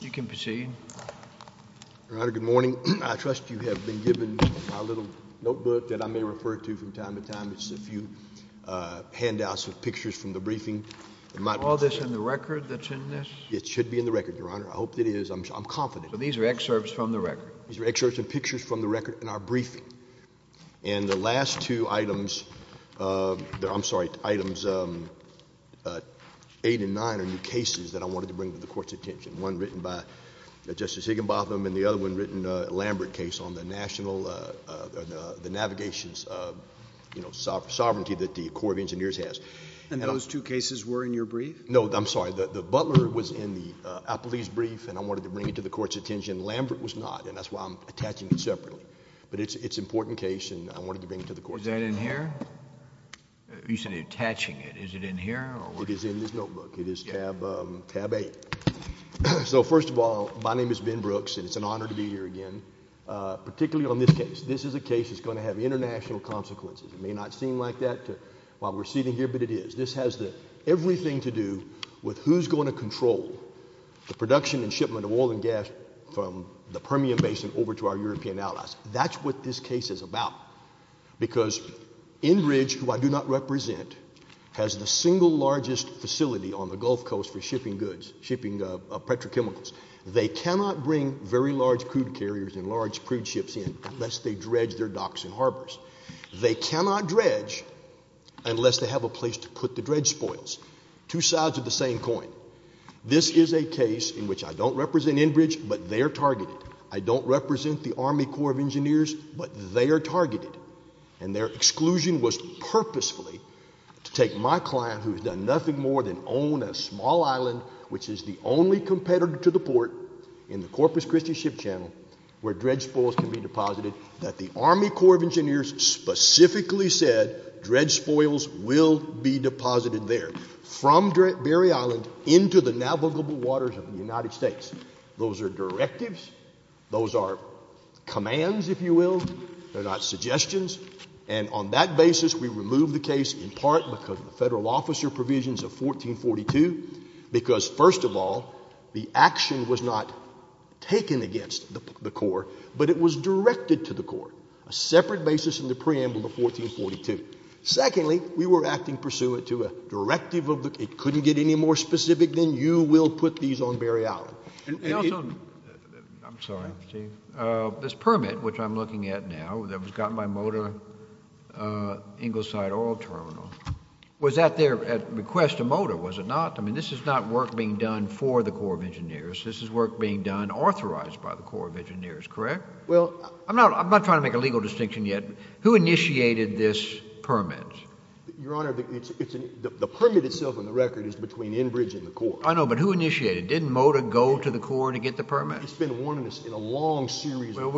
You can proceed. Your Honor, good morning. I trust you have been given my little notebook that I may refer to from time to time. It's a few handouts of pictures from the briefing. Is all this in the record that's in this? It should be in the record, Your Honor. I hope it is. I'm confident. So these are excerpts from the record? These are excerpts and pictures from the record in our briefing. And the last two items, I'm sorry, items 8 and 9 are new cases that I wanted to bring to the Court's attention, one written by Justice Higginbotham and the other one written, a Lambert case, on the navigations of sovereignty that the Corps of Engineers has. And those two cases were in your brief? No, I'm sorry. The Butler was in the Appellee's brief, and I wanted to bring it to the Court's attention. Lambert was not, and that's why I'm attaching it separately. But it's an important case, and I wanted to bring it to the Court. Is that in here? You said attaching it. Is it in here? It is in this notebook. It is tab 8. So first of all, my name is Ben Brooks, and it's an honor to be here again, particularly on this case. This is a case that's going to have international consequences. It may not seem like that while we're sitting here, but it is. This has everything to do with who's going to control the production and shipment of oil and gas from the Permian Basin over to our European allies. That's what this case is about, because Enbridge, who I do not represent, has the single largest facility on the Gulf Coast for shipping goods, shipping petrochemicals. They cannot bring very large crude carriers and large crude ships in unless they dredge their docks and harbors. They cannot dredge unless they have a place to put the dredge spoils. Two sides of the same coin. This is a case in which I don't represent Enbridge, but they are targeted. I don't represent the Army Corps of Engineers, but they are targeted. And their exclusion was purposefully to take my client, who has done nothing more than own a small island, which is the only competitor to the port in the Corpus Christi ship channel where dredge spoils can be deposited, that the Army Corps of Engineers specifically said dredge spoils will be deposited there from Berry Island into the navigable waters of the United States. Those are directives. Those are commands, if you will. They're not suggestions. And on that basis, we removed the case in part because of the federal officer provisions of 1442, because, first of all, the action was not taken against the Corps, but it was directed to the Corps, a separate basis in the preamble to 1442. Secondly, we were acting pursuant to a directive of the Corps. It couldn't get any more specific than you will put these on Berry Island. I'm sorry, Steve. This permit, which I'm looking at now, that was gotten by Motor Ingleside Oil Terminal, was that there at request of Motor, was it not? I mean, this is not work being done for the Corps of Engineers. This is work being done authorized by the Corps of Engineers, correct? I'm not trying to make a legal distinction yet. Who initiated this permit? Your Honor, the permit itself on the record is between Enbridge and the Corps. I know, but who initiated it? Didn't Motor go to the Corps to get the permit? It's been one of us in a long series of permits. Well,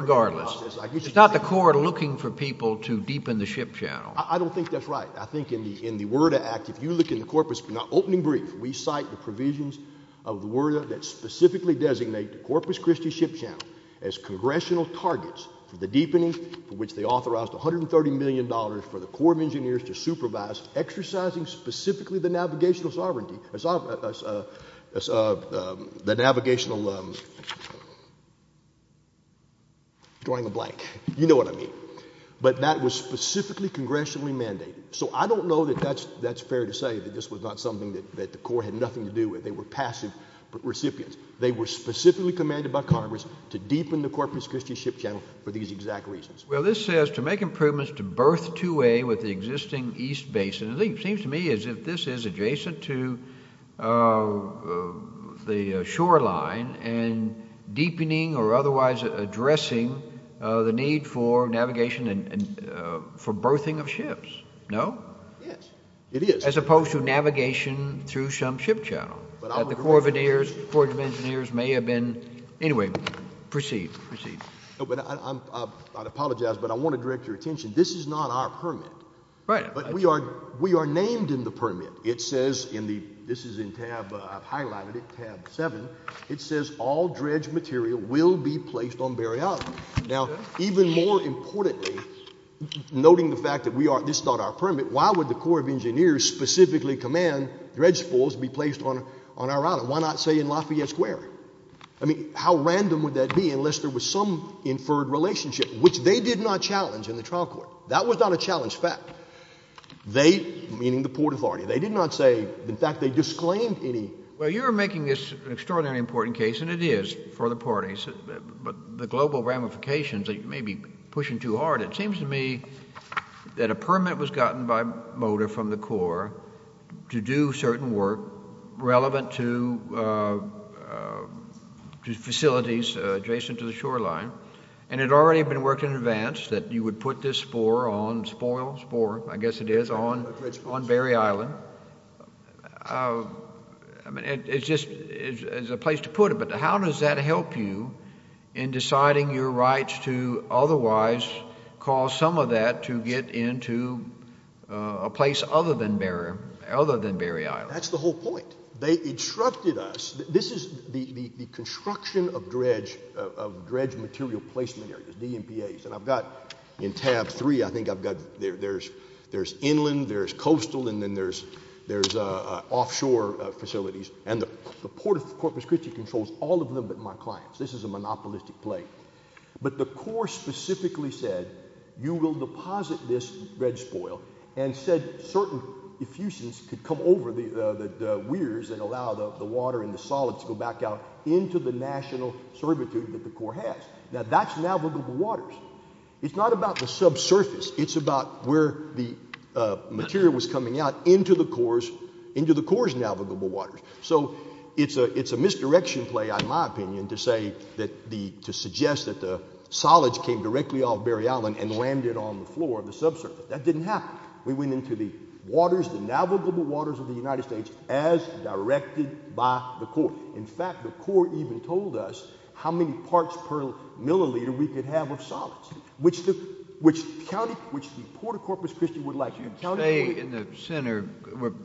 regardless. It's not the Corps looking for people to deepen the ship channel. I don't think that's right. I think in the WERDA Act, if you look in the corpus, now, opening brief, we cite the provisions of the WERDA that specifically designate the Corpus Christi Ship Channel as congressional targets for the deepening for which they authorized $130 million for the Corps of Engineers to supervise exercising specifically the navigational sovereignty, the navigational, drawing a blank. You know what I mean. But that was specifically congressionally mandated. So I don't know that that's fair to say that this was not something that the Corps had nothing to do with. They were passive recipients. They were specifically commanded by Congress to deepen the Corpus Christi Ship Channel for these exact reasons. Well, this says to make improvements to berth 2A with the existing east basin. It seems to me as if this is adjacent to the shoreline and deepening or otherwise addressing the need for navigation and for berthing of ships, no? Yes, it is. As opposed to navigation through some ship channel that the Corps of Engineers may have been. Anyway, proceed, proceed. I apologize, but I want to direct your attention. This is not our permit. Right. But we are named in the permit. It says in the, this is in tab, I've highlighted it, tab 7. It says all dredge material will be placed on Berry Island. Now, even more importantly, noting the fact that this is not our permit, why would the Corps of Engineers specifically command dredge spools be placed on our island? Why not say in Lafayette Square? I mean, how random would that be unless there was some inferred relationship, which they did not challenge in the trial court. That was not a challenged fact. They, meaning the Port Authority, they did not say. In fact, they disclaimed any. Well, you are making this an extraordinarily important case, and it is for the parties, but the global ramifications that you may be pushing too hard, it seems to me that a permit was gotten by MOTOR from the Corps to do certain work relevant to facilities adjacent to the shoreline, and it had already been worked in advance that you would put this spore on, spoil, spore, I guess it is, on Berry Island. I mean, it is just a place to put it, but how does that help you in deciding your rights to otherwise cause some of that to get into a place other than Berry Island? That is the whole point. They instructed us. This is the construction of dredge material placement areas, DMPAs, and I have got in tab three, I think I have got, there is inland, there is coastal, and then there is offshore facilities, and the Port of Corpus Christi controls all of them but my clients. This is a monopolistic play. But the Corps specifically said you will deposit this dredge spoil and said certain effusions could come over the weirs and allow the water and the solids to go back out into the national servitude that the Corps has. Now, that is navigable waters. It is not about the subsurface. It is about where the material was coming out into the Corps' navigable waters. So it is a misdirection play, in my opinion, to suggest that the solids came directly off Berry Island and landed on the floor of the subsurface. That did not happen. We went into the waters, the navigable waters of the United States, as directed by the Corps. In fact, the Corps even told us how many parts per milliliter we could have of solids, which the Port of Corpus Christi would like. Stay in the center.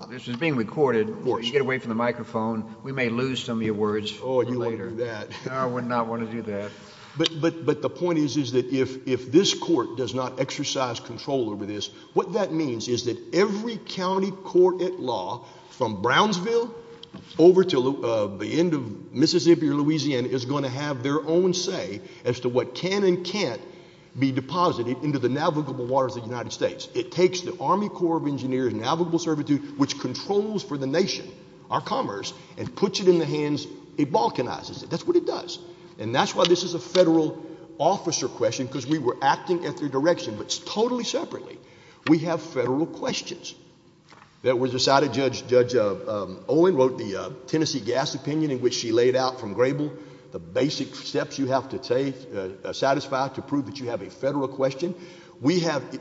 This is being recorded. Get away from the microphone. We may lose some of your words. Oh, you won't do that. I would not want to do that. But the point is that if this court does not exercise control over this, what that means is that every county court at law, from Brownsville over to the end of Mississippi or Louisiana, is going to have their own say as to what can and can't be deposited into the navigable waters of the United States. It takes the Army Corps of Engineers navigable servitude, which controls for the nation, our commerce, and puts it in the hands, it balkanizes it. That's what it does. And that's why this is a federal officer question, because we were acting at their direction, but totally separately. We have federal questions. There was a side of Judge Owen wrote the Tennessee gas opinion in which she laid out from Grable the basic steps you have to satisfy to prove that you have a federal question. We have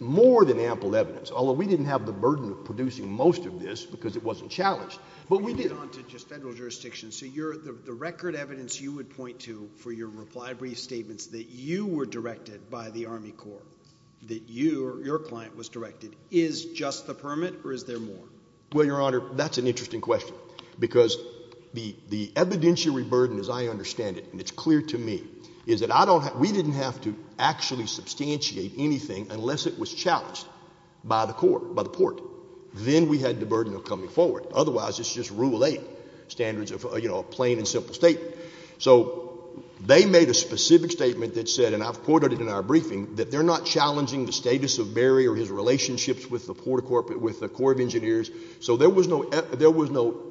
more than ample evidence, although we didn't have the burden of producing most of this because it wasn't challenged, but we did. Let me get on to just federal jurisdiction. So the record evidence you would point to for your reply brief statements that you were directed by the Army Corps, that your client was directed, is just the permit or is there more? Well, Your Honor, that's an interesting question because the evidentiary burden, as I understand it, and it's clear to me, is that we didn't have to actually substantiate anything unless it was challenged by the court, by the port. Then we had the burden of coming forward. Otherwise, it's just Rule 8 standards of a plain and simple statement. So they made a specific statement that said, and I've quoted it in our briefing, that they're not challenging the status of Barry or his relationships with the Corps of Engineers. So there was no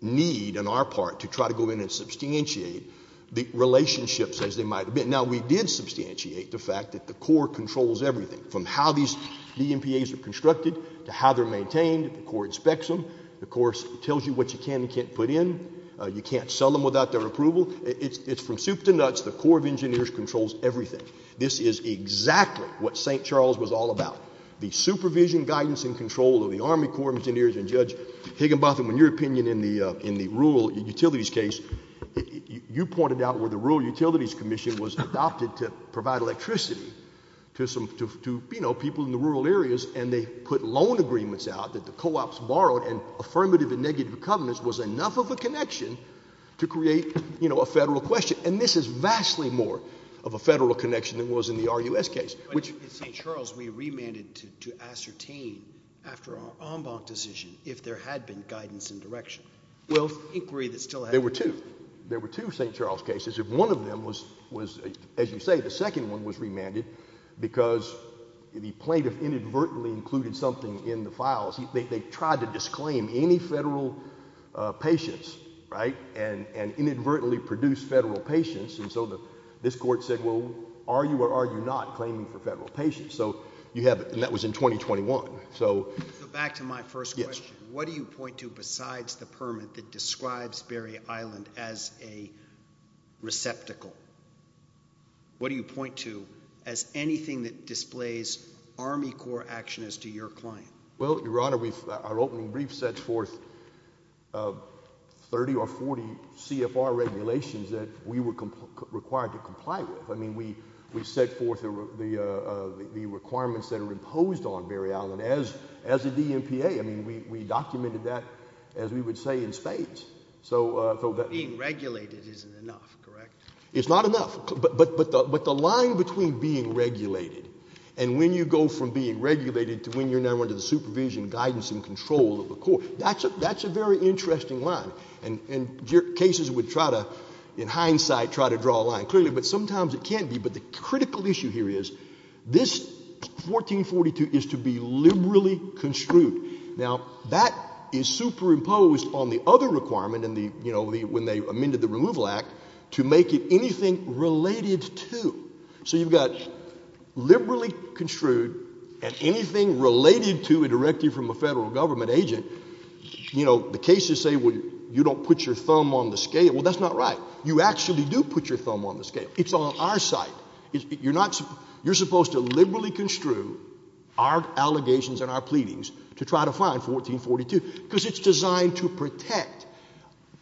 need on our part to try to go in and substantiate the relationships as they might have been. Now, we did substantiate the fact that the Corps controls everything from how these DMPAs are constructed to how they're maintained. The Corps inspects them. The Corps tells you what you can and can't put in. You can't sell them without their approval. It's from soup to nuts. The Corps of Engineers controls everything. This is exactly what St. Charles was all about. The supervision, guidance, and control of the Army Corps of Engineers and Judge Higginbotham, in your opinion in the rural utilities case, you pointed out where the Rural Utilities Commission was adopted to provide electricity to people in the rural areas, and they put loan agreements out that the co-ops borrowed and affirmative and negative covenants was enough of a connection to create a federal question. And this is vastly more of a federal connection than was in the RUS case. In St. Charles, we remanded to ascertain after our en banc decision if there had been guidance and direction. There were two St. Charles cases. One of them was, as you say, the second one was remanded because the plaintiff inadvertently included something in the files. They tried to disclaim any federal patients and inadvertently produced federal patients, and so this court said, well, are you or are you not claiming for federal patients? And that was in 2021. Back to my first question. What do you point to besides the permit that describes Berry Island as a receptacle? What do you point to as anything that displays Army Corps action as to your claim? Well, Your Honor, our opening brief sets forth 30 or 40 CFR regulations that we were required to comply with. I mean, we set forth the requirements that are imposed on Berry Island as a DMPA. I mean, we documented that, as we would say, in spades. Being regulated isn't enough, correct? It's not enough. But the line between being regulated and when you go from being regulated to when you're now under the supervision, guidance, and control of the court, that's a very interesting line. And cases would try to, in hindsight, try to draw a line. Clearly, but sometimes it can be. But the critical issue here is this 1442 is to be liberally construed. Now, that is superimposed on the other requirement when they amended the Removal Act to make it anything related to. So you've got liberally construed and anything related to a directive from a federal government agent. You know, the cases say, well, you don't put your thumb on the scale. Well, that's not right. You actually do put your thumb on the scale. It's on our side. You're supposed to liberally construe our allegations and our pleadings to try to find 1442 because it's designed to protect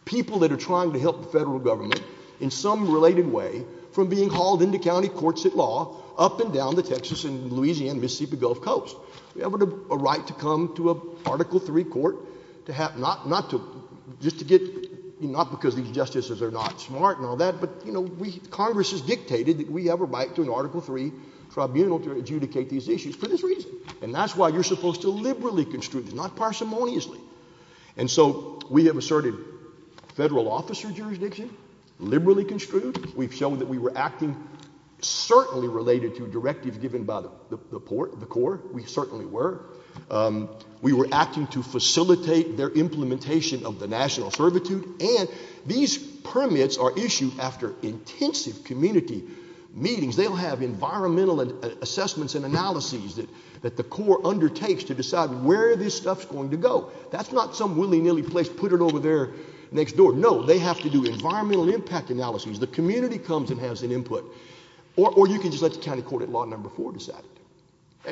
people that are trying to help the federal government in some related way from being hauled into county courts at law up and down the Texas and Louisiana and Mississippi Gulf Coast. We have a right to come to an Article III court not because these justices are not smart and all that, but, you know, Congress has dictated that we have a right to an Article III tribunal to adjudicate these issues for this reason. And that's why you're supposed to liberally construe this, not parsimoniously. And so we have asserted federal officer jurisdiction, liberally construed. We've shown that we were acting certainly related to directives given by the court. We certainly were. We were acting to facilitate their implementation of the national servitude. And these permits are issued after intensive community meetings. They'll have environmental assessments and analyses that the court undertakes to decide where this stuff's going to go. That's not some willy-nilly place, put it over there next door. No, they have to do environmental impact analyses. The community comes and has an input. Or you can just let the county court at Law No. 4 decide it.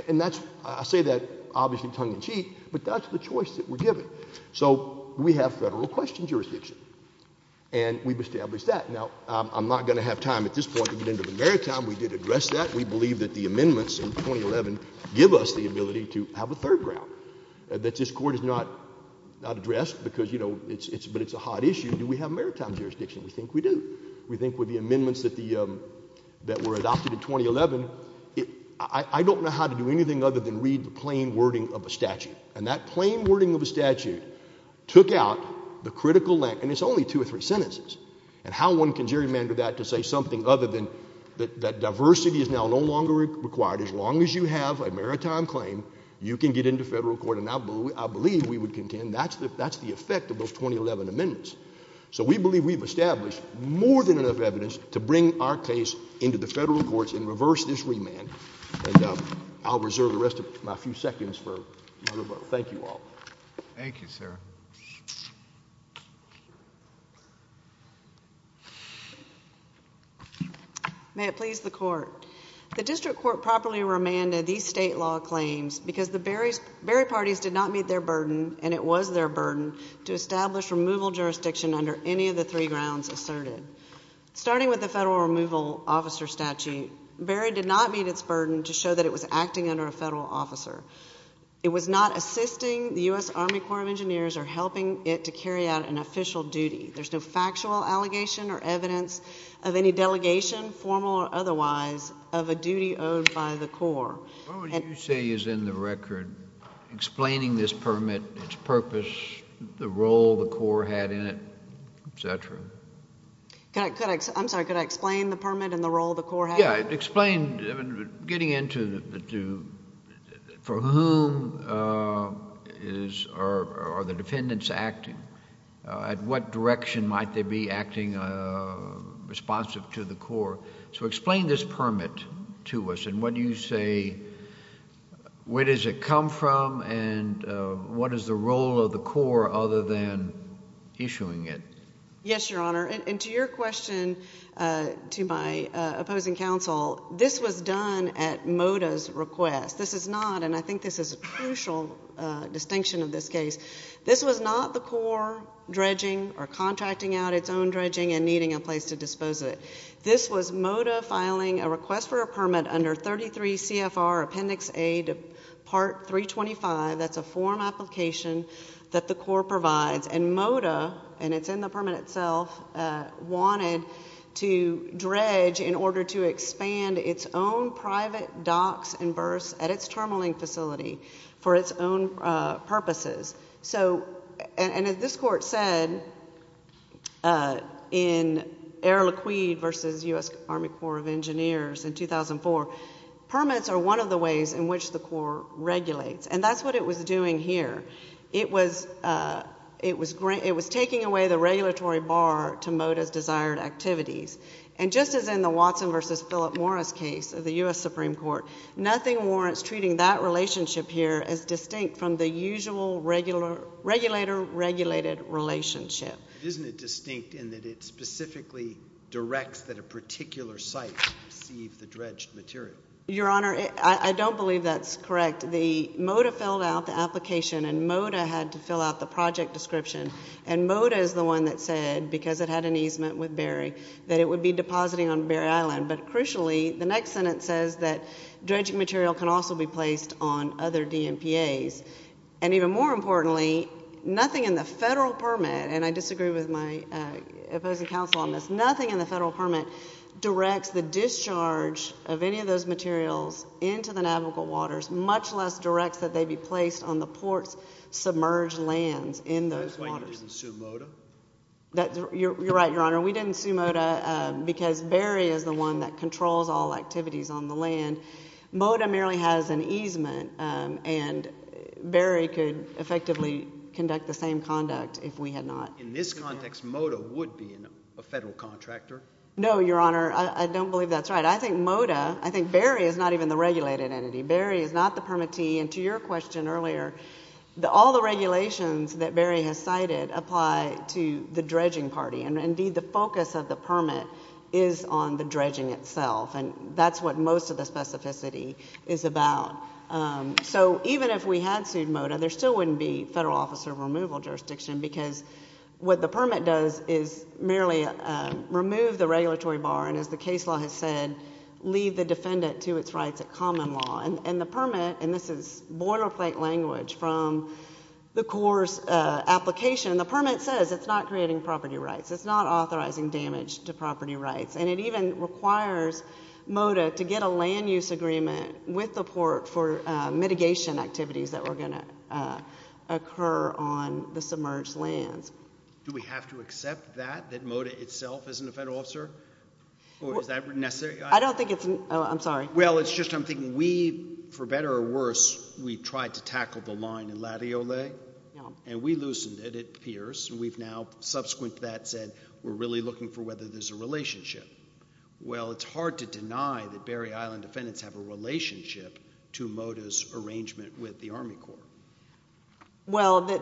And I say that obviously tongue-in-cheek, but that's the choice that we're given. So we have federal question jurisdiction, and we've established that. Now, I'm not going to have time at this point to get into the maritime. We did address that. We believe that the amendments in 2011 give us the ability to have a third ground that this court has not addressed, but it's a hot issue. Do we have maritime jurisdiction? We think we do. We think with the amendments that were adopted in 2011, I don't know how to do anything other than read the plain wording of a statute. And that plain wording of a statute took out the critical length. And it's only two or three sentences. And how one can gerrymander that to say something other than that diversity is now no longer required. As long as you have a maritime claim, you can get into federal court. And I believe we would contend that's the effect of those 2011 amendments. So we believe we've established more than enough evidence to bring our case into the federal courts and reverse this remand. And I'll reserve the rest of my few seconds for another vote. Thank you all. Thank you, sir. May it please the court. The district court properly remanded these state law claims because the Berry parties did not meet their burden, and it was their burden, to establish removal jurisdiction under any of the three grounds asserted. Starting with the federal removal officer statute, Berry did not meet its burden to show that it was acting under a federal officer. It was not assisting the U.S. Army Corps of Engineers or helping it to carry out an official duty. There's no factual allegation or evidence of any delegation, formal or otherwise, of a duty owed by the Corps. What would you say is in the record about explaining this permit, its purpose, the role the Corps had in it, et cetera? I'm sorry, could I explain the permit and the role the Corps had in it? Yeah, explain, getting into for whom are the defendants acting? At what direction might they be acting responsive to the Corps? So explain this permit to us, and what do you say, where does it come from, and what is the role of the Corps other than issuing it? Yes, Your Honor, and to your question, to my opposing counsel, this was done at MODA's request. This is not, and I think this is a crucial distinction of this case, this was not the Corps dredging or contracting out its own dredging and needing a place to dispose of it. This was MODA filing a request for a permit under 33 CFR Appendix A to Part 325. That's a form application that the Corps provides, and MODA, and it's in the permit itself, wanted to dredge in order to expand its own private docks and berths at its terminal facility for its own purposes. So, and as this Court said, in Erlequid v. U.S. Army Corps of Engineers in 2004, permits are one of the ways in which the Corps regulates, and that's what it was doing here. It was taking away the regulatory bar to MODA's desired activities, and just as in the Watson v. Philip Morris case of the U.S. Supreme Court, nothing warrants treating that relationship here as distinct from the usual regulator-regulated relationship. Isn't it distinct in that it specifically directs that a particular site receive the dredged material? Your Honor, I don't believe that's correct. The MODA filled out the application, and MODA had to fill out the project description, and MODA is the one that said, because it had an easement with Berry, that it would be depositing on Berry Island. But crucially, the next sentence says that dredging material can also be placed on other DMPAs. And even more importantly, nothing in the federal permit, and I disagree with my opposing counsel on this, nothing in the federal permit directs the discharge of any of those materials into the navigable waters, much less directs that they be placed on the port's submerged lands in those waters. That's why you didn't sue MODA? You're right, Your Honor. We didn't sue MODA because Berry is the one that controls all activities on the land. MODA merely has an easement, and Berry could effectively conduct the same conduct if we had not. In this context, MODA would be a federal contractor? No, Your Honor, I don't believe that's right. I think MODA, I think Berry is not even the regulated entity. Berry is not the permittee, and to your question earlier, all the regulations that Berry has cited apply to the dredging party, and indeed the focus of the permit is on the dredging itself, and that's what most of the specificity is about. So even if we had sued MODA, there still wouldn't be federal officer removal jurisdiction because what the permit does is merely remove the regulatory bar and, as the case law has said, leave the defendant to its rights at common law. And the permit, and this is boilerplate language from the Corps' application, and the permit says it's not creating property rights, it's not authorizing damage to property rights, and it even requires MODA to get a land-use agreement with the Port for mitigation activities that were going to occur on the submerged lands. Do we have to accept that, that MODA itself isn't a federal officer? Or is that necessary? I don't think it's... Oh, I'm sorry. Well, it's just I'm thinking we, for better or worse, we tried to tackle the line in Latiole, and we loosened it, it appears, and we've now, subsequent to that, said we're really looking for whether there's a relationship. Well, it's hard to deny that Berry Island defendants have a relationship to MODA's arrangement with the Army Corps. Well, the...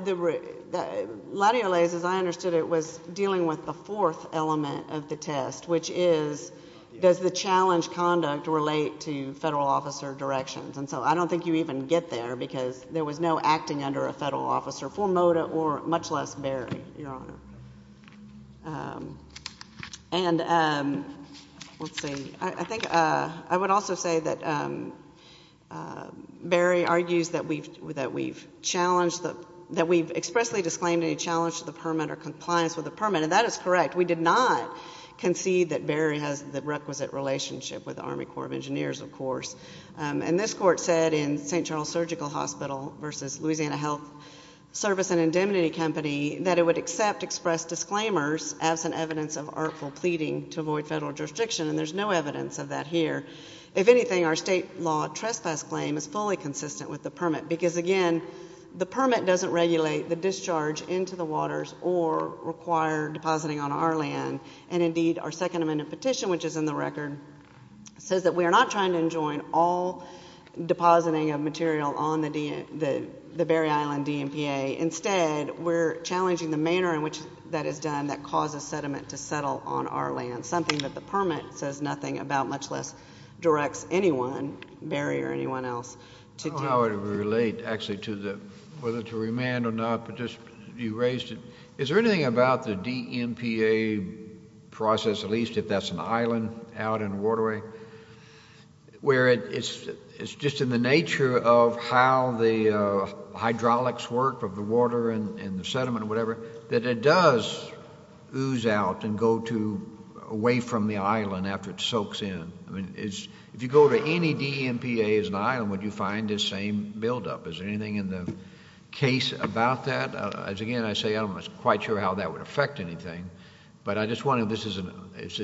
Latiole's, as I understood it, was dealing with the fourth element of the test, which is does the challenge conduct relate to federal officer directions? And so I don't think you even get there because there was no acting under a federal officer for MODA or much less Berry, Your Honour. And, um, let's see. I think I would also say that Berry argues that we've challenged the... that we've expressly disclaimed any challenge to the permit or compliance with the permit, and that is correct. We did not concede that Berry has the requisite relationship with the Army Corps of Engineers, of course. And this court said in St. Charles Surgical Hospital versus Louisiana Health Service and Indemnity Company that it would accept expressed disclaimers absent evidence of artful pleading to avoid federal jurisdiction, and there's no evidence of that here. If anything, our state law trespass claim is fully consistent with the permit because, again, the permit doesn't regulate the discharge into the waters or require depositing on our land. And, indeed, our Second Amendment petition, which is in the record, says that we are not trying to enjoin all depositing of material on the Berry Island DMPA. Instead, we're challenging the manner in which that is done that causes sediment to settle on our land, something that the permit says nothing about, much less directs anyone, Berry or anyone else, to do. I don't know how it would relate, actually, to whether to remand or not, but just you raised it. Is there anything about the DMPA process, at least if that's an island out in a waterway, where it's just in the nature of how the hydraulics work of the water and the sediment or whatever, that it does ooze out and go away from the island after it soaks in? If you go to any DMPA as an island, would you find this same buildup? Is there anything in the case about that? Again, I say I'm not quite sure how that would affect anything, but I just wonder if this is a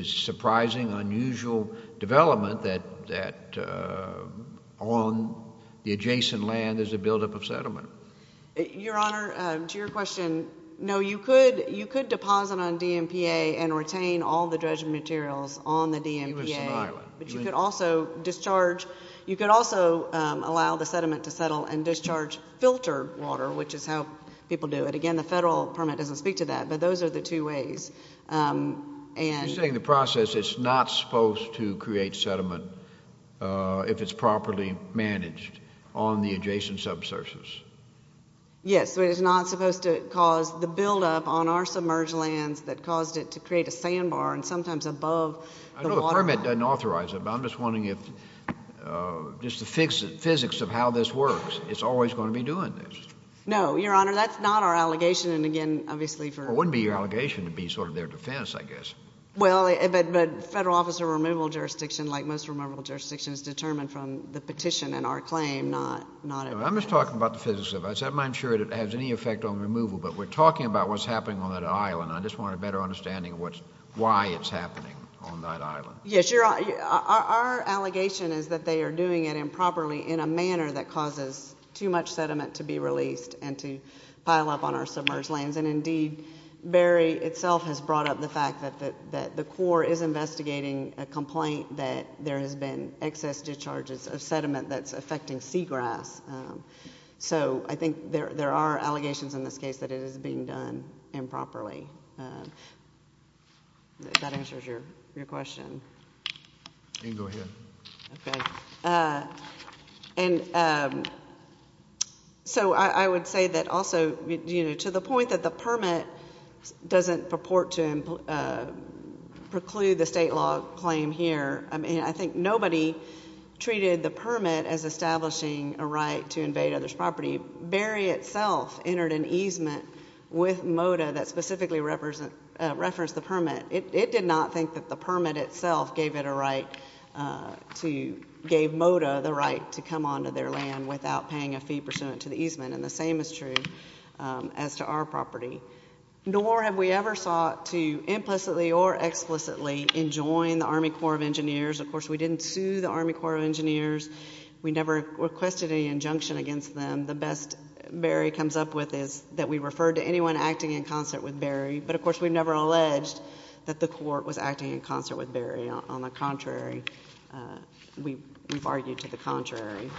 surprising, unusual development that on the adjacent land there's a buildup of sediment. Your Honor, to your question, no, you could deposit on DMPA and retain all the dredging materials on the DMPA, but you could also discharge... You could also allow the sediment to settle and discharge filter water, which is how people do it. Again, the federal permit doesn't speak to that, but those are the two ways. You're saying the process is not supposed to create sediment if it's properly managed on the adjacent subsurface. Yes, but it's not supposed to cause the buildup on our submerged lands that caused it to create a sandbar and sometimes above the waterline. I know the permit doesn't authorize it, but I'm just wondering if just the physics of how this works, it's always going to be doing this. No, Your Honor, that's not our allegation, and again, obviously... It wouldn't be your allegation. It would be sort of their defense, I guess. Well, but federal officer removal jurisdiction, like most removal jurisdictions, is determined from the petition and our claim, not... I'm just talking about the physics of it. I'm not sure it has any effect on removal, but we're talking about what's happening on that island. I just want a better understanding of why it's happening on that island. Yes, Your Honor, our allegation is that they are doing it improperly in a manner that causes too much sediment to be released and to pile up on our submerged lands. And indeed, Barry itself has brought up the fact that the Corps is investigating a complaint that there has been excess discharges of sediment that's affecting seagrass. So I think there are allegations in this case that it is being done improperly. If that answers your question. Then go ahead. OK. And so I would say that also, you know, to the point that the permit doesn't purport to preclude the state law claim here, I mean, I think nobody treated the permit as establishing a right to invade others' property. Barry itself entered an easement with MoDA that specifically referenced the permit. It did not think that the permit itself gave it a right to give MoDA the right to come onto their land without paying a fee pursuant to the easement. And the same is true as to our property. Nor have we ever sought to implicitly or explicitly enjoin the Army Corps of Engineers. Of course, we didn't sue the Army Corps of Engineers. We never requested any injunction against them. The best Barry comes up with is that we referred to anyone acting in concert with Barry. But of course, we never alleged that the Corps was acting in concert with Barry. On the contrary, we've argued to the contrary.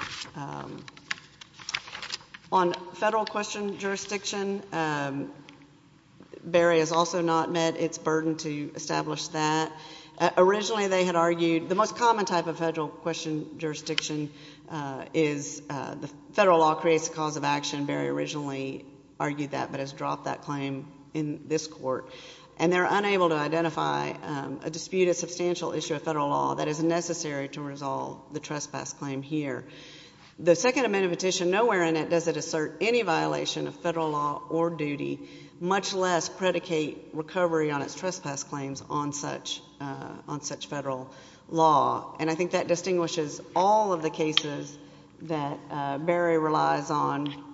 On federal question jurisdiction, Barry has also not met its burden to establish that. Originally, they had argued... The most common type of federal question jurisdiction is the federal law creates a cause of action. Barry originally argued that, but has dropped that claim in this court. And they're unable to identify a dispute, a substantial issue of federal law that is necessary to resolve the trespass claim here. The Second Amendment Petition, nowhere in it does it assert any violation of federal law or duty, much less predicate recovery on its trespass claims on such federal law. And I think that distinguishes all of the cases that Barry relies on.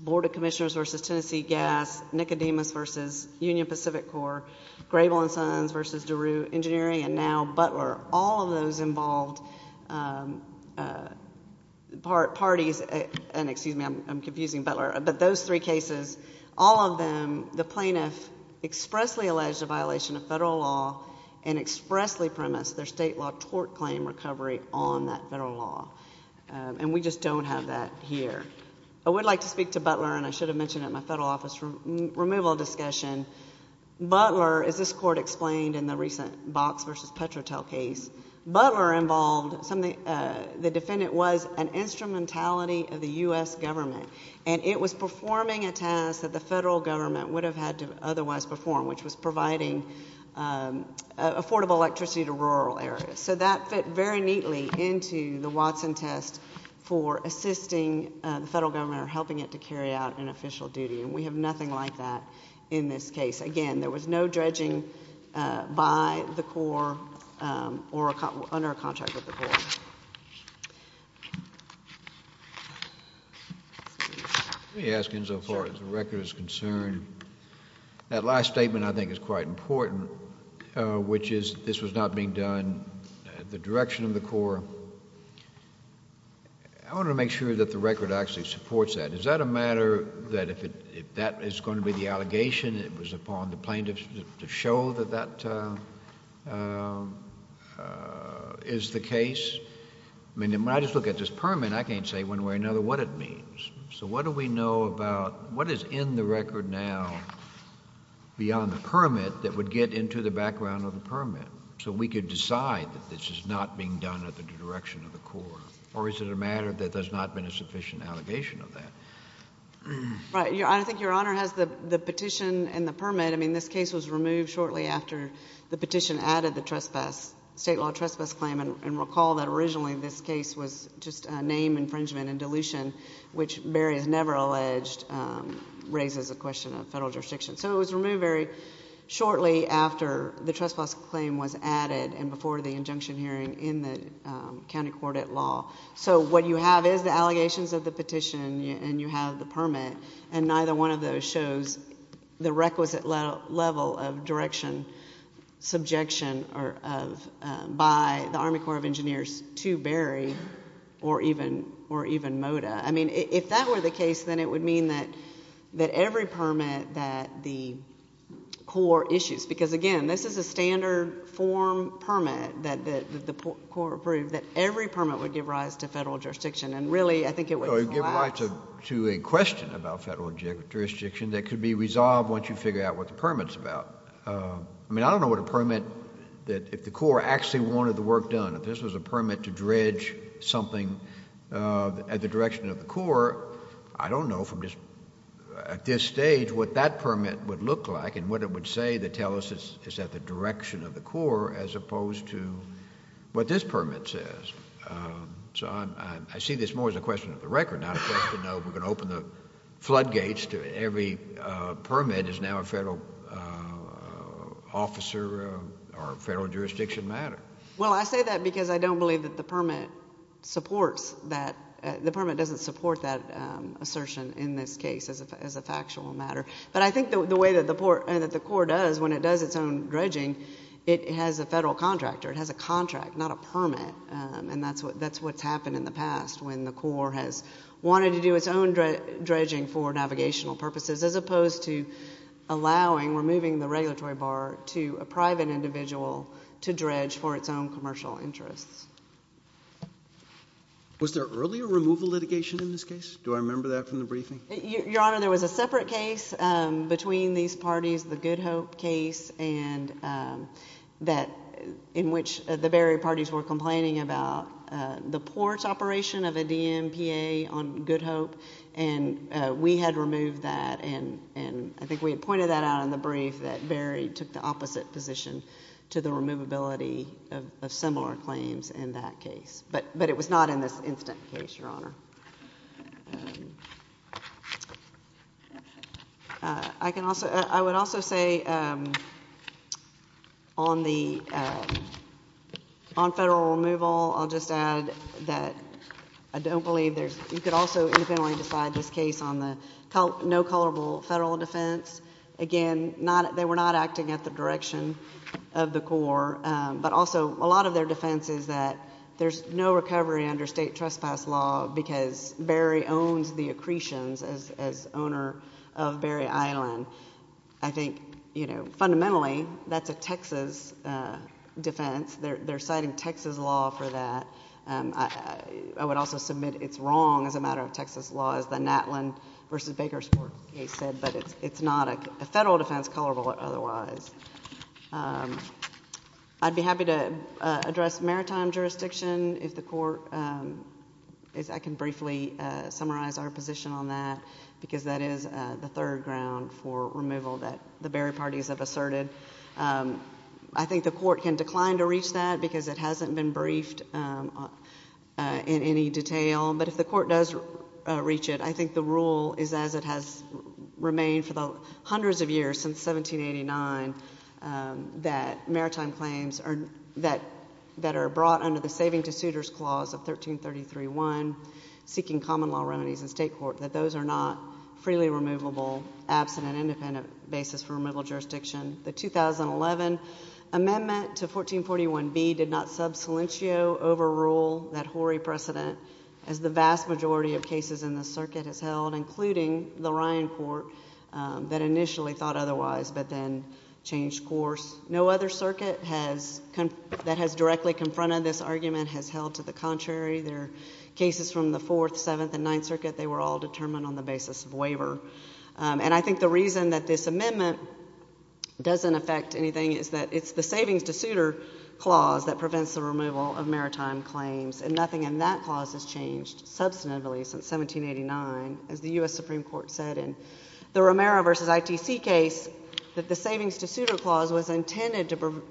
Board of Commissioners v. Tennessee Gas, Nicodemus v. Union Pacific Corps, Grable & Sons v. DeRue Engineering, and now Butler. All of those involved parties... And excuse me, I'm confusing Butler. But those three cases, all of them, the plaintiff expressly alleged a violation of federal law and expressly premised their state law tort claim recovery on that federal law. And we just don't have that here. I would like to speak to Butler, and I should have mentioned it in my federal office removal discussion. Butler, as this Court explained in the recent Box v. Petrotel case, Butler involved something... The defendant was an instrumentality of the U.S. government, and it was performing a task that the federal government would have had to otherwise perform, which was providing affordable electricity to rural areas. So that fit very neatly into the Watson test for assisting the federal government in helping it to carry out an official duty, and we have nothing like that in this case. Again, there was no dredging by the Corps or under a contract with the Corps. Let me ask you, as far as the record is concerned, that last statement I think is quite important, which is this was not being done at the direction of the Corps. I want to make sure that the record actually supports that. Is that a matter that if that is going to be the allegation that was upon the plaintiffs to show that that is the case? I mean, when I just look at this permit, I can't say one way or another what it means. So what do we know about what is in the record now beyond the permit that would get into the background of the permit so we could decide that this is not being done at the direction of the Corps? Or is it a matter that there has not been a sufficient allegation of that? Right. I think Your Honor has the petition and the permit. I mean, this case was removed shortly after the petition added the state law trespass claim. And recall that originally this case was just a name infringement and dilution, which Barry has never alleged, raises the question of federal jurisdiction. So it was removed very shortly after the trespass claim was added and before the injunction hearing in the county court at law. So what you have is the allegations of the petition and you have the permit, and neither one of those shows the requisite level of direction, subjection by the Army Corps of Engineers to Barry or even Mota. I mean, if that were the case, then it would mean that every permit that the Corps issues... Because, again, this is a standard form permit that the Corps approved, that every permit would give rise to federal jurisdiction, and really I think it would collapse. It would give rise to a question about federal jurisdiction that could be resolved once you figure out what the permit's about. I mean, I don't know what a permit... If the Corps actually wanted the work done, if this was a permit to dredge something at the direction of the Corps, I don't know at this stage what that permit would look like and what it would say to tell us it's at the direction of the Corps as opposed to what this permit says. So I see this more as a question of the record, not a question of we're going to open the floodgates to every permit is now a federal officer or federal jurisdiction matter. Well, I say that because I don't believe that the permit supports that. The permit doesn't support that assertion in this case as a factual matter. But I think the way that the Corps does when it does its own dredging, it has a federal contractor. It has a contract, not a permit, and that's what's happened in the past when the Corps has wanted to do its own dredging for navigational purposes as opposed to allowing, removing the regulatory bar to a private individual to dredge for its own commercial interests. Was there earlier removal litigation in this case? Do I remember that from the briefing? Your Honor, there was a separate case between these parties, the Good Hope case, in which the Berry parties were complaining about the port operation of a DMPA on Good Hope, and we had removed that, and I think we had pointed that out in the brief that Berry took the opposite position to the removability of similar claims in that case. But it was not in this incident case, Your Honor. I would also say on federal removal, I'll just add that I don't believe there's— you could also independently decide this case on the no colorable federal defense. Again, they were not acting at the direction of the Corps, but also a lot of their defense is that there's no recovery under state trespass law because Berry owns the accretions as owner of Berry Island. I think fundamentally that's a Texas defense. They're citing Texas law for that. I would also submit it's wrong as a matter of Texas law, as the Natlin v. Bakersport case said, but it's not a federal defense colorable otherwise. I'd be happy to address maritime jurisdiction if the Court— I can briefly summarize our position on that, because that is the third ground for removal that the Berry parties have asserted. I think the Court can decline to reach that because it hasn't been briefed in any detail, but if the Court does reach it, I think the rule is as it has remained for the hundreds of years, since 1789, that maritime claims that are brought under the Saving to Suitors Clause of 1333-1, seeking common law remedies in state court, that those are not freely removable absent an independent basis for removal of jurisdiction. The 2011 amendment to 1441B did not sub silentio overrule that Horry precedent, as the vast majority of cases in this circuit has held, including the Ryan Court that initially thought otherwise but then changed course. No other circuit that has directly confronted this argument has held to the contrary. There are cases from the Fourth, Seventh, and Ninth Circuit. They were all determined on the basis of waiver. And I think the reason that this amendment doesn't affect anything is that it's the Savings to Suitor Clause that prevents the removal of maritime claims, and nothing in that clause has changed substantively since 1789, as the U.S. Supreme Court said in the Romero v. ITC case that the Savings to Suitor Clause was intended to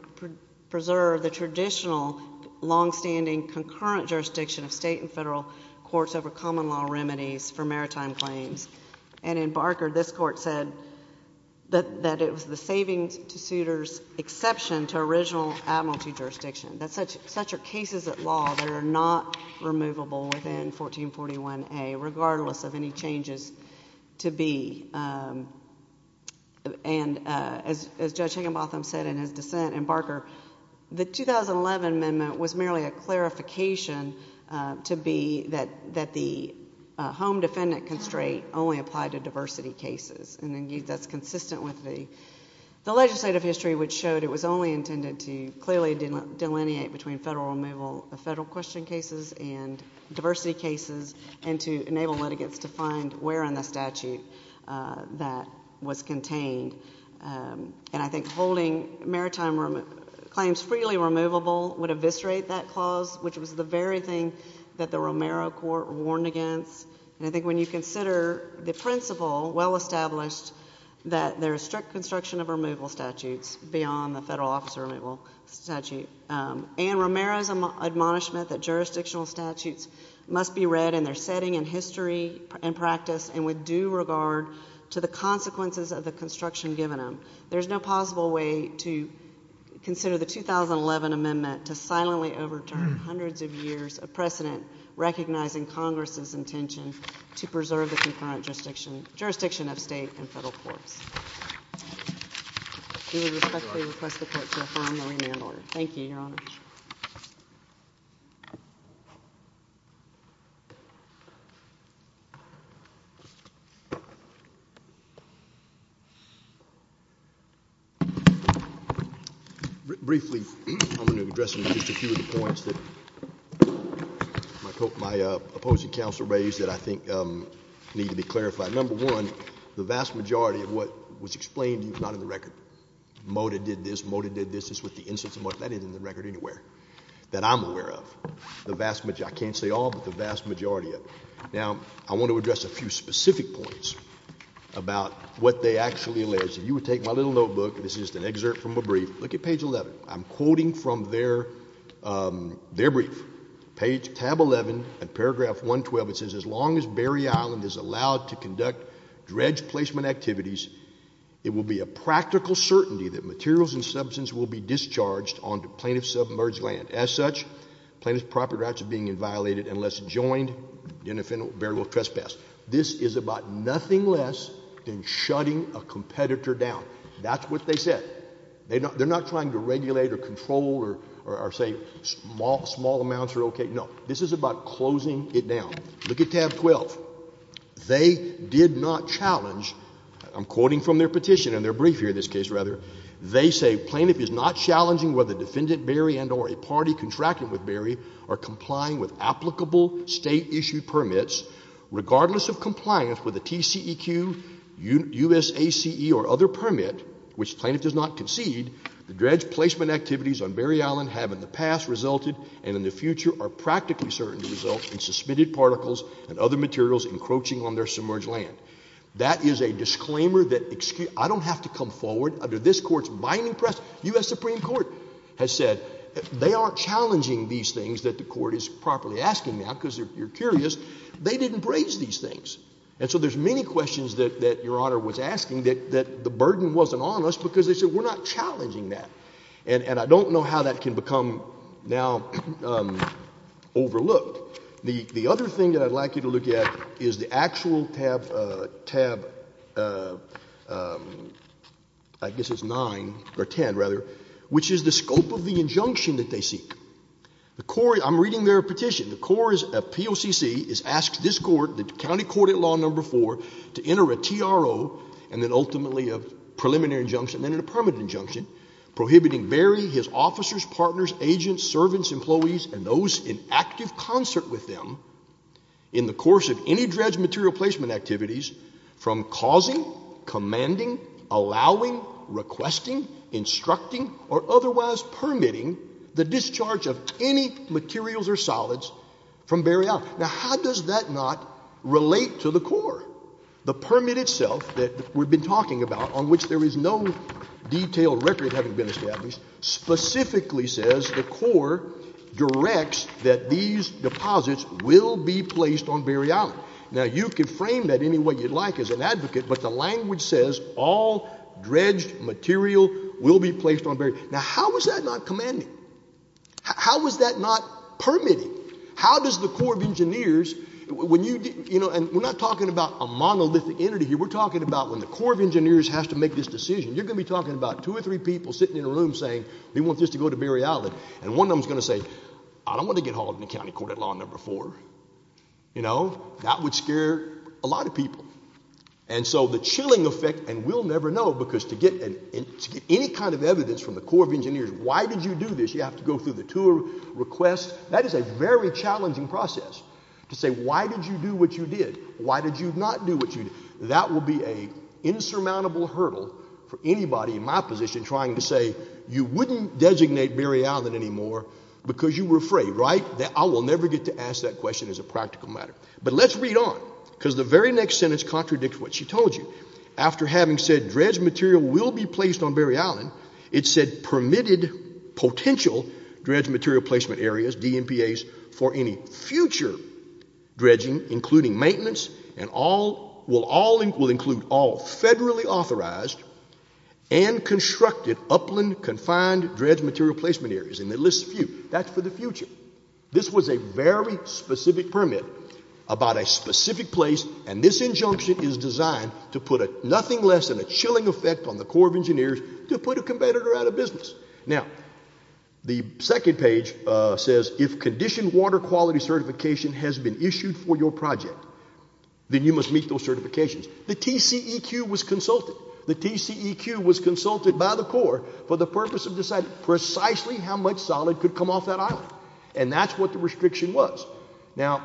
preserve the traditional longstanding concurrent jurisdiction of state and federal courts over common law remedies for maritime claims. And in Barker, this Court said that it was the Savings to Suitor's exception to original administrative jurisdiction, that such are cases of law that are not removable within 1441A, regardless of any changes to be. And as Judge Higginbotham said in his dissent in Barker, the 2011 amendment was merely a clarification to be that the home defendant constraint only applied to diversity cases. And that's consistent with the legislative history, which showed it was only intended to clearly delineate between federal question cases and diversity cases and to enable litigants to find where in the statute that was contained. And I think holding maritime claims freely removable would eviscerate that clause, which was the very thing that the Romero Court warned against. And I think when you consider the principle well established that there is strict construction of removal statutes beyond the federal officer removal statute, and Romero's admonishment that jurisdictional statutes must be read in their setting and history and practice and with due regard to the consequences of the construction given them, there's no possible way to consider the 2011 amendment to silently overturn hundreds of years of precedent recognizing Congress's intention to preserve the concurrent jurisdiction of state and federal courts. I respectfully request the Court to affirm the remand order. Thank you, Your Honor. Thank you very much. Briefly, I'm going to address just a few of the points that my opposing counsel raised that I think need to be clarified. Number one, the vast majority of what was explained to you is not in the record. Mota did this. Mota did this. This is with the instance of Mota. That isn't in the record anywhere that I'm aware of. The vast majority. I can't say all, but the vast majority of it. Now, I want to address a few specific points about what they actually alleged. You would take my little notebook. This is just an excerpt from a brief. Look at page 11. I'm quoting from their brief. Page tab 11 and paragraph 112. It says, As long as Barry Island is allowed to conduct dredge placement activities, it will be a practical certainty that materials and substance will be discharged onto plaintiff's submerged land. As such, plaintiff's property rights are being inviolated unless joined in an offensive or bearable trespass. This is about nothing less than shutting a competitor down. That's what they said. They're not trying to regulate or control or say small amounts are okay. No. This is about closing it down. Look at tab 12. They did not challenge. I'm quoting from their petition, and their brief here in this case, rather. They say plaintiff is not challenging whether defendant Barry and or a party contracted with Barry are complying with applicable state-issued permits. Regardless of compliance with a TCEQ, USACE, or other permit, which plaintiff does not concede, the dredge placement activities on Barry Island have in the past resulted and in the future are practically certain to result in materials encroaching on their submerged land. That is a disclaimer that I don't have to come forward. Under this Court's binding press, US Supreme Court has said they aren't challenging these things that the Court is properly asking now because you're curious. They didn't raise these things. And so there's many questions that Your Honor was asking that the burden wasn't on us because they said we're not challenging that. And I don't know how that can become now overlooked. The other thing that I'd like you to look at is the actual tab, I guess it's 9 or 10 rather, which is the scope of the injunction that they seek. I'm reading their petition. The POCC asks this Court, the county court at Law No. 4, to enter a TRO and then ultimately a preliminary injunction and then a permanent injunction prohibiting Barry, his officers, partners, agents, servants, employees, and those in active concert with them in the course of any dredged material placement activities from causing, commanding, allowing, requesting, instructing, or otherwise permitting the discharge of any materials or solids from Barry Island. Now, how does that not relate to the Corps? The permit itself that we've been talking about, on which there is no detailed record having been established, specifically says the Corps directs that these deposits will be placed on Barry Island. Now, you can frame that any way you'd like as an advocate, but the language says all dredged material will be placed on Barry Island. Now, how is that not commanding? How is that not permitting? How does the Corps of Engineers, and we're not talking about a monolithic entity here, we're talking about when the Corps of Engineers has to make this decision, you're going to be talking about two or three people sitting in a room saying they want this to go to Barry Island, and one of them is going to say, I don't want to get hauled in the county court at law number four. That would scare a lot of people. And so the chilling effect, and we'll never know, because to get any kind of evidence from the Corps of Engineers, why did you do this, you have to go through the tour, request, that is a very challenging process, to say why did you do what you did, why did you not do what you did. That will be an insurmountable hurdle for anybody in my position trying to say you wouldn't designate Barry Island anymore because you were afraid, right? I will never get to ask that question as a practical matter. But let's read on, because the very next sentence contradicts what she told you. After having said dredged material will be placed on Barry Island, it said permitted potential dredged material placement areas, DMPAs, for any future dredging, including maintenance, will include all federally authorized and constructed upland confined dredged material placement areas. And it lists a few. That's for the future. This was a very specific permit about a specific place, and this injunction is designed to put nothing less than a chilling effect on the Corps of Engineers to put a competitor out of business. Now, the second page says, if conditioned water quality certification has been issued for your project, then you must meet those certifications. The TCEQ was consulted. The TCEQ was consulted by the Corps for the purpose of deciding precisely how much solid could come off that island. And that's what the restriction was. Now,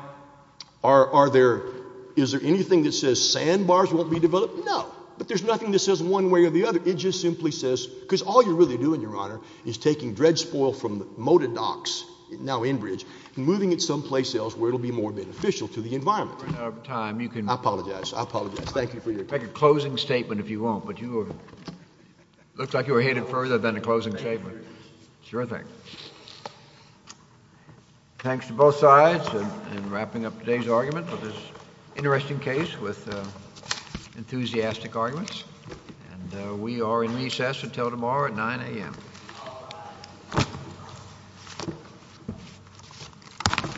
is there anything that says sandbars won't be developed? No. But there's nothing that says one way or the other. It just simply says, because all you're really doing, Your Honor, is taking dredge spoil from the motor docks, now Enbridge, and moving it someplace else where it will be more beneficial to the environment. Your Honor, if we have time, you can... I apologize. I apologize. Thank you for your... Make a closing statement if you want, but you were... It looks like you were headed further than a closing statement. Sure thing. Thanks to both sides in wrapping up today's argument with this interesting case with enthusiastic arguments. And we are in recess until tomorrow at 9 a.m.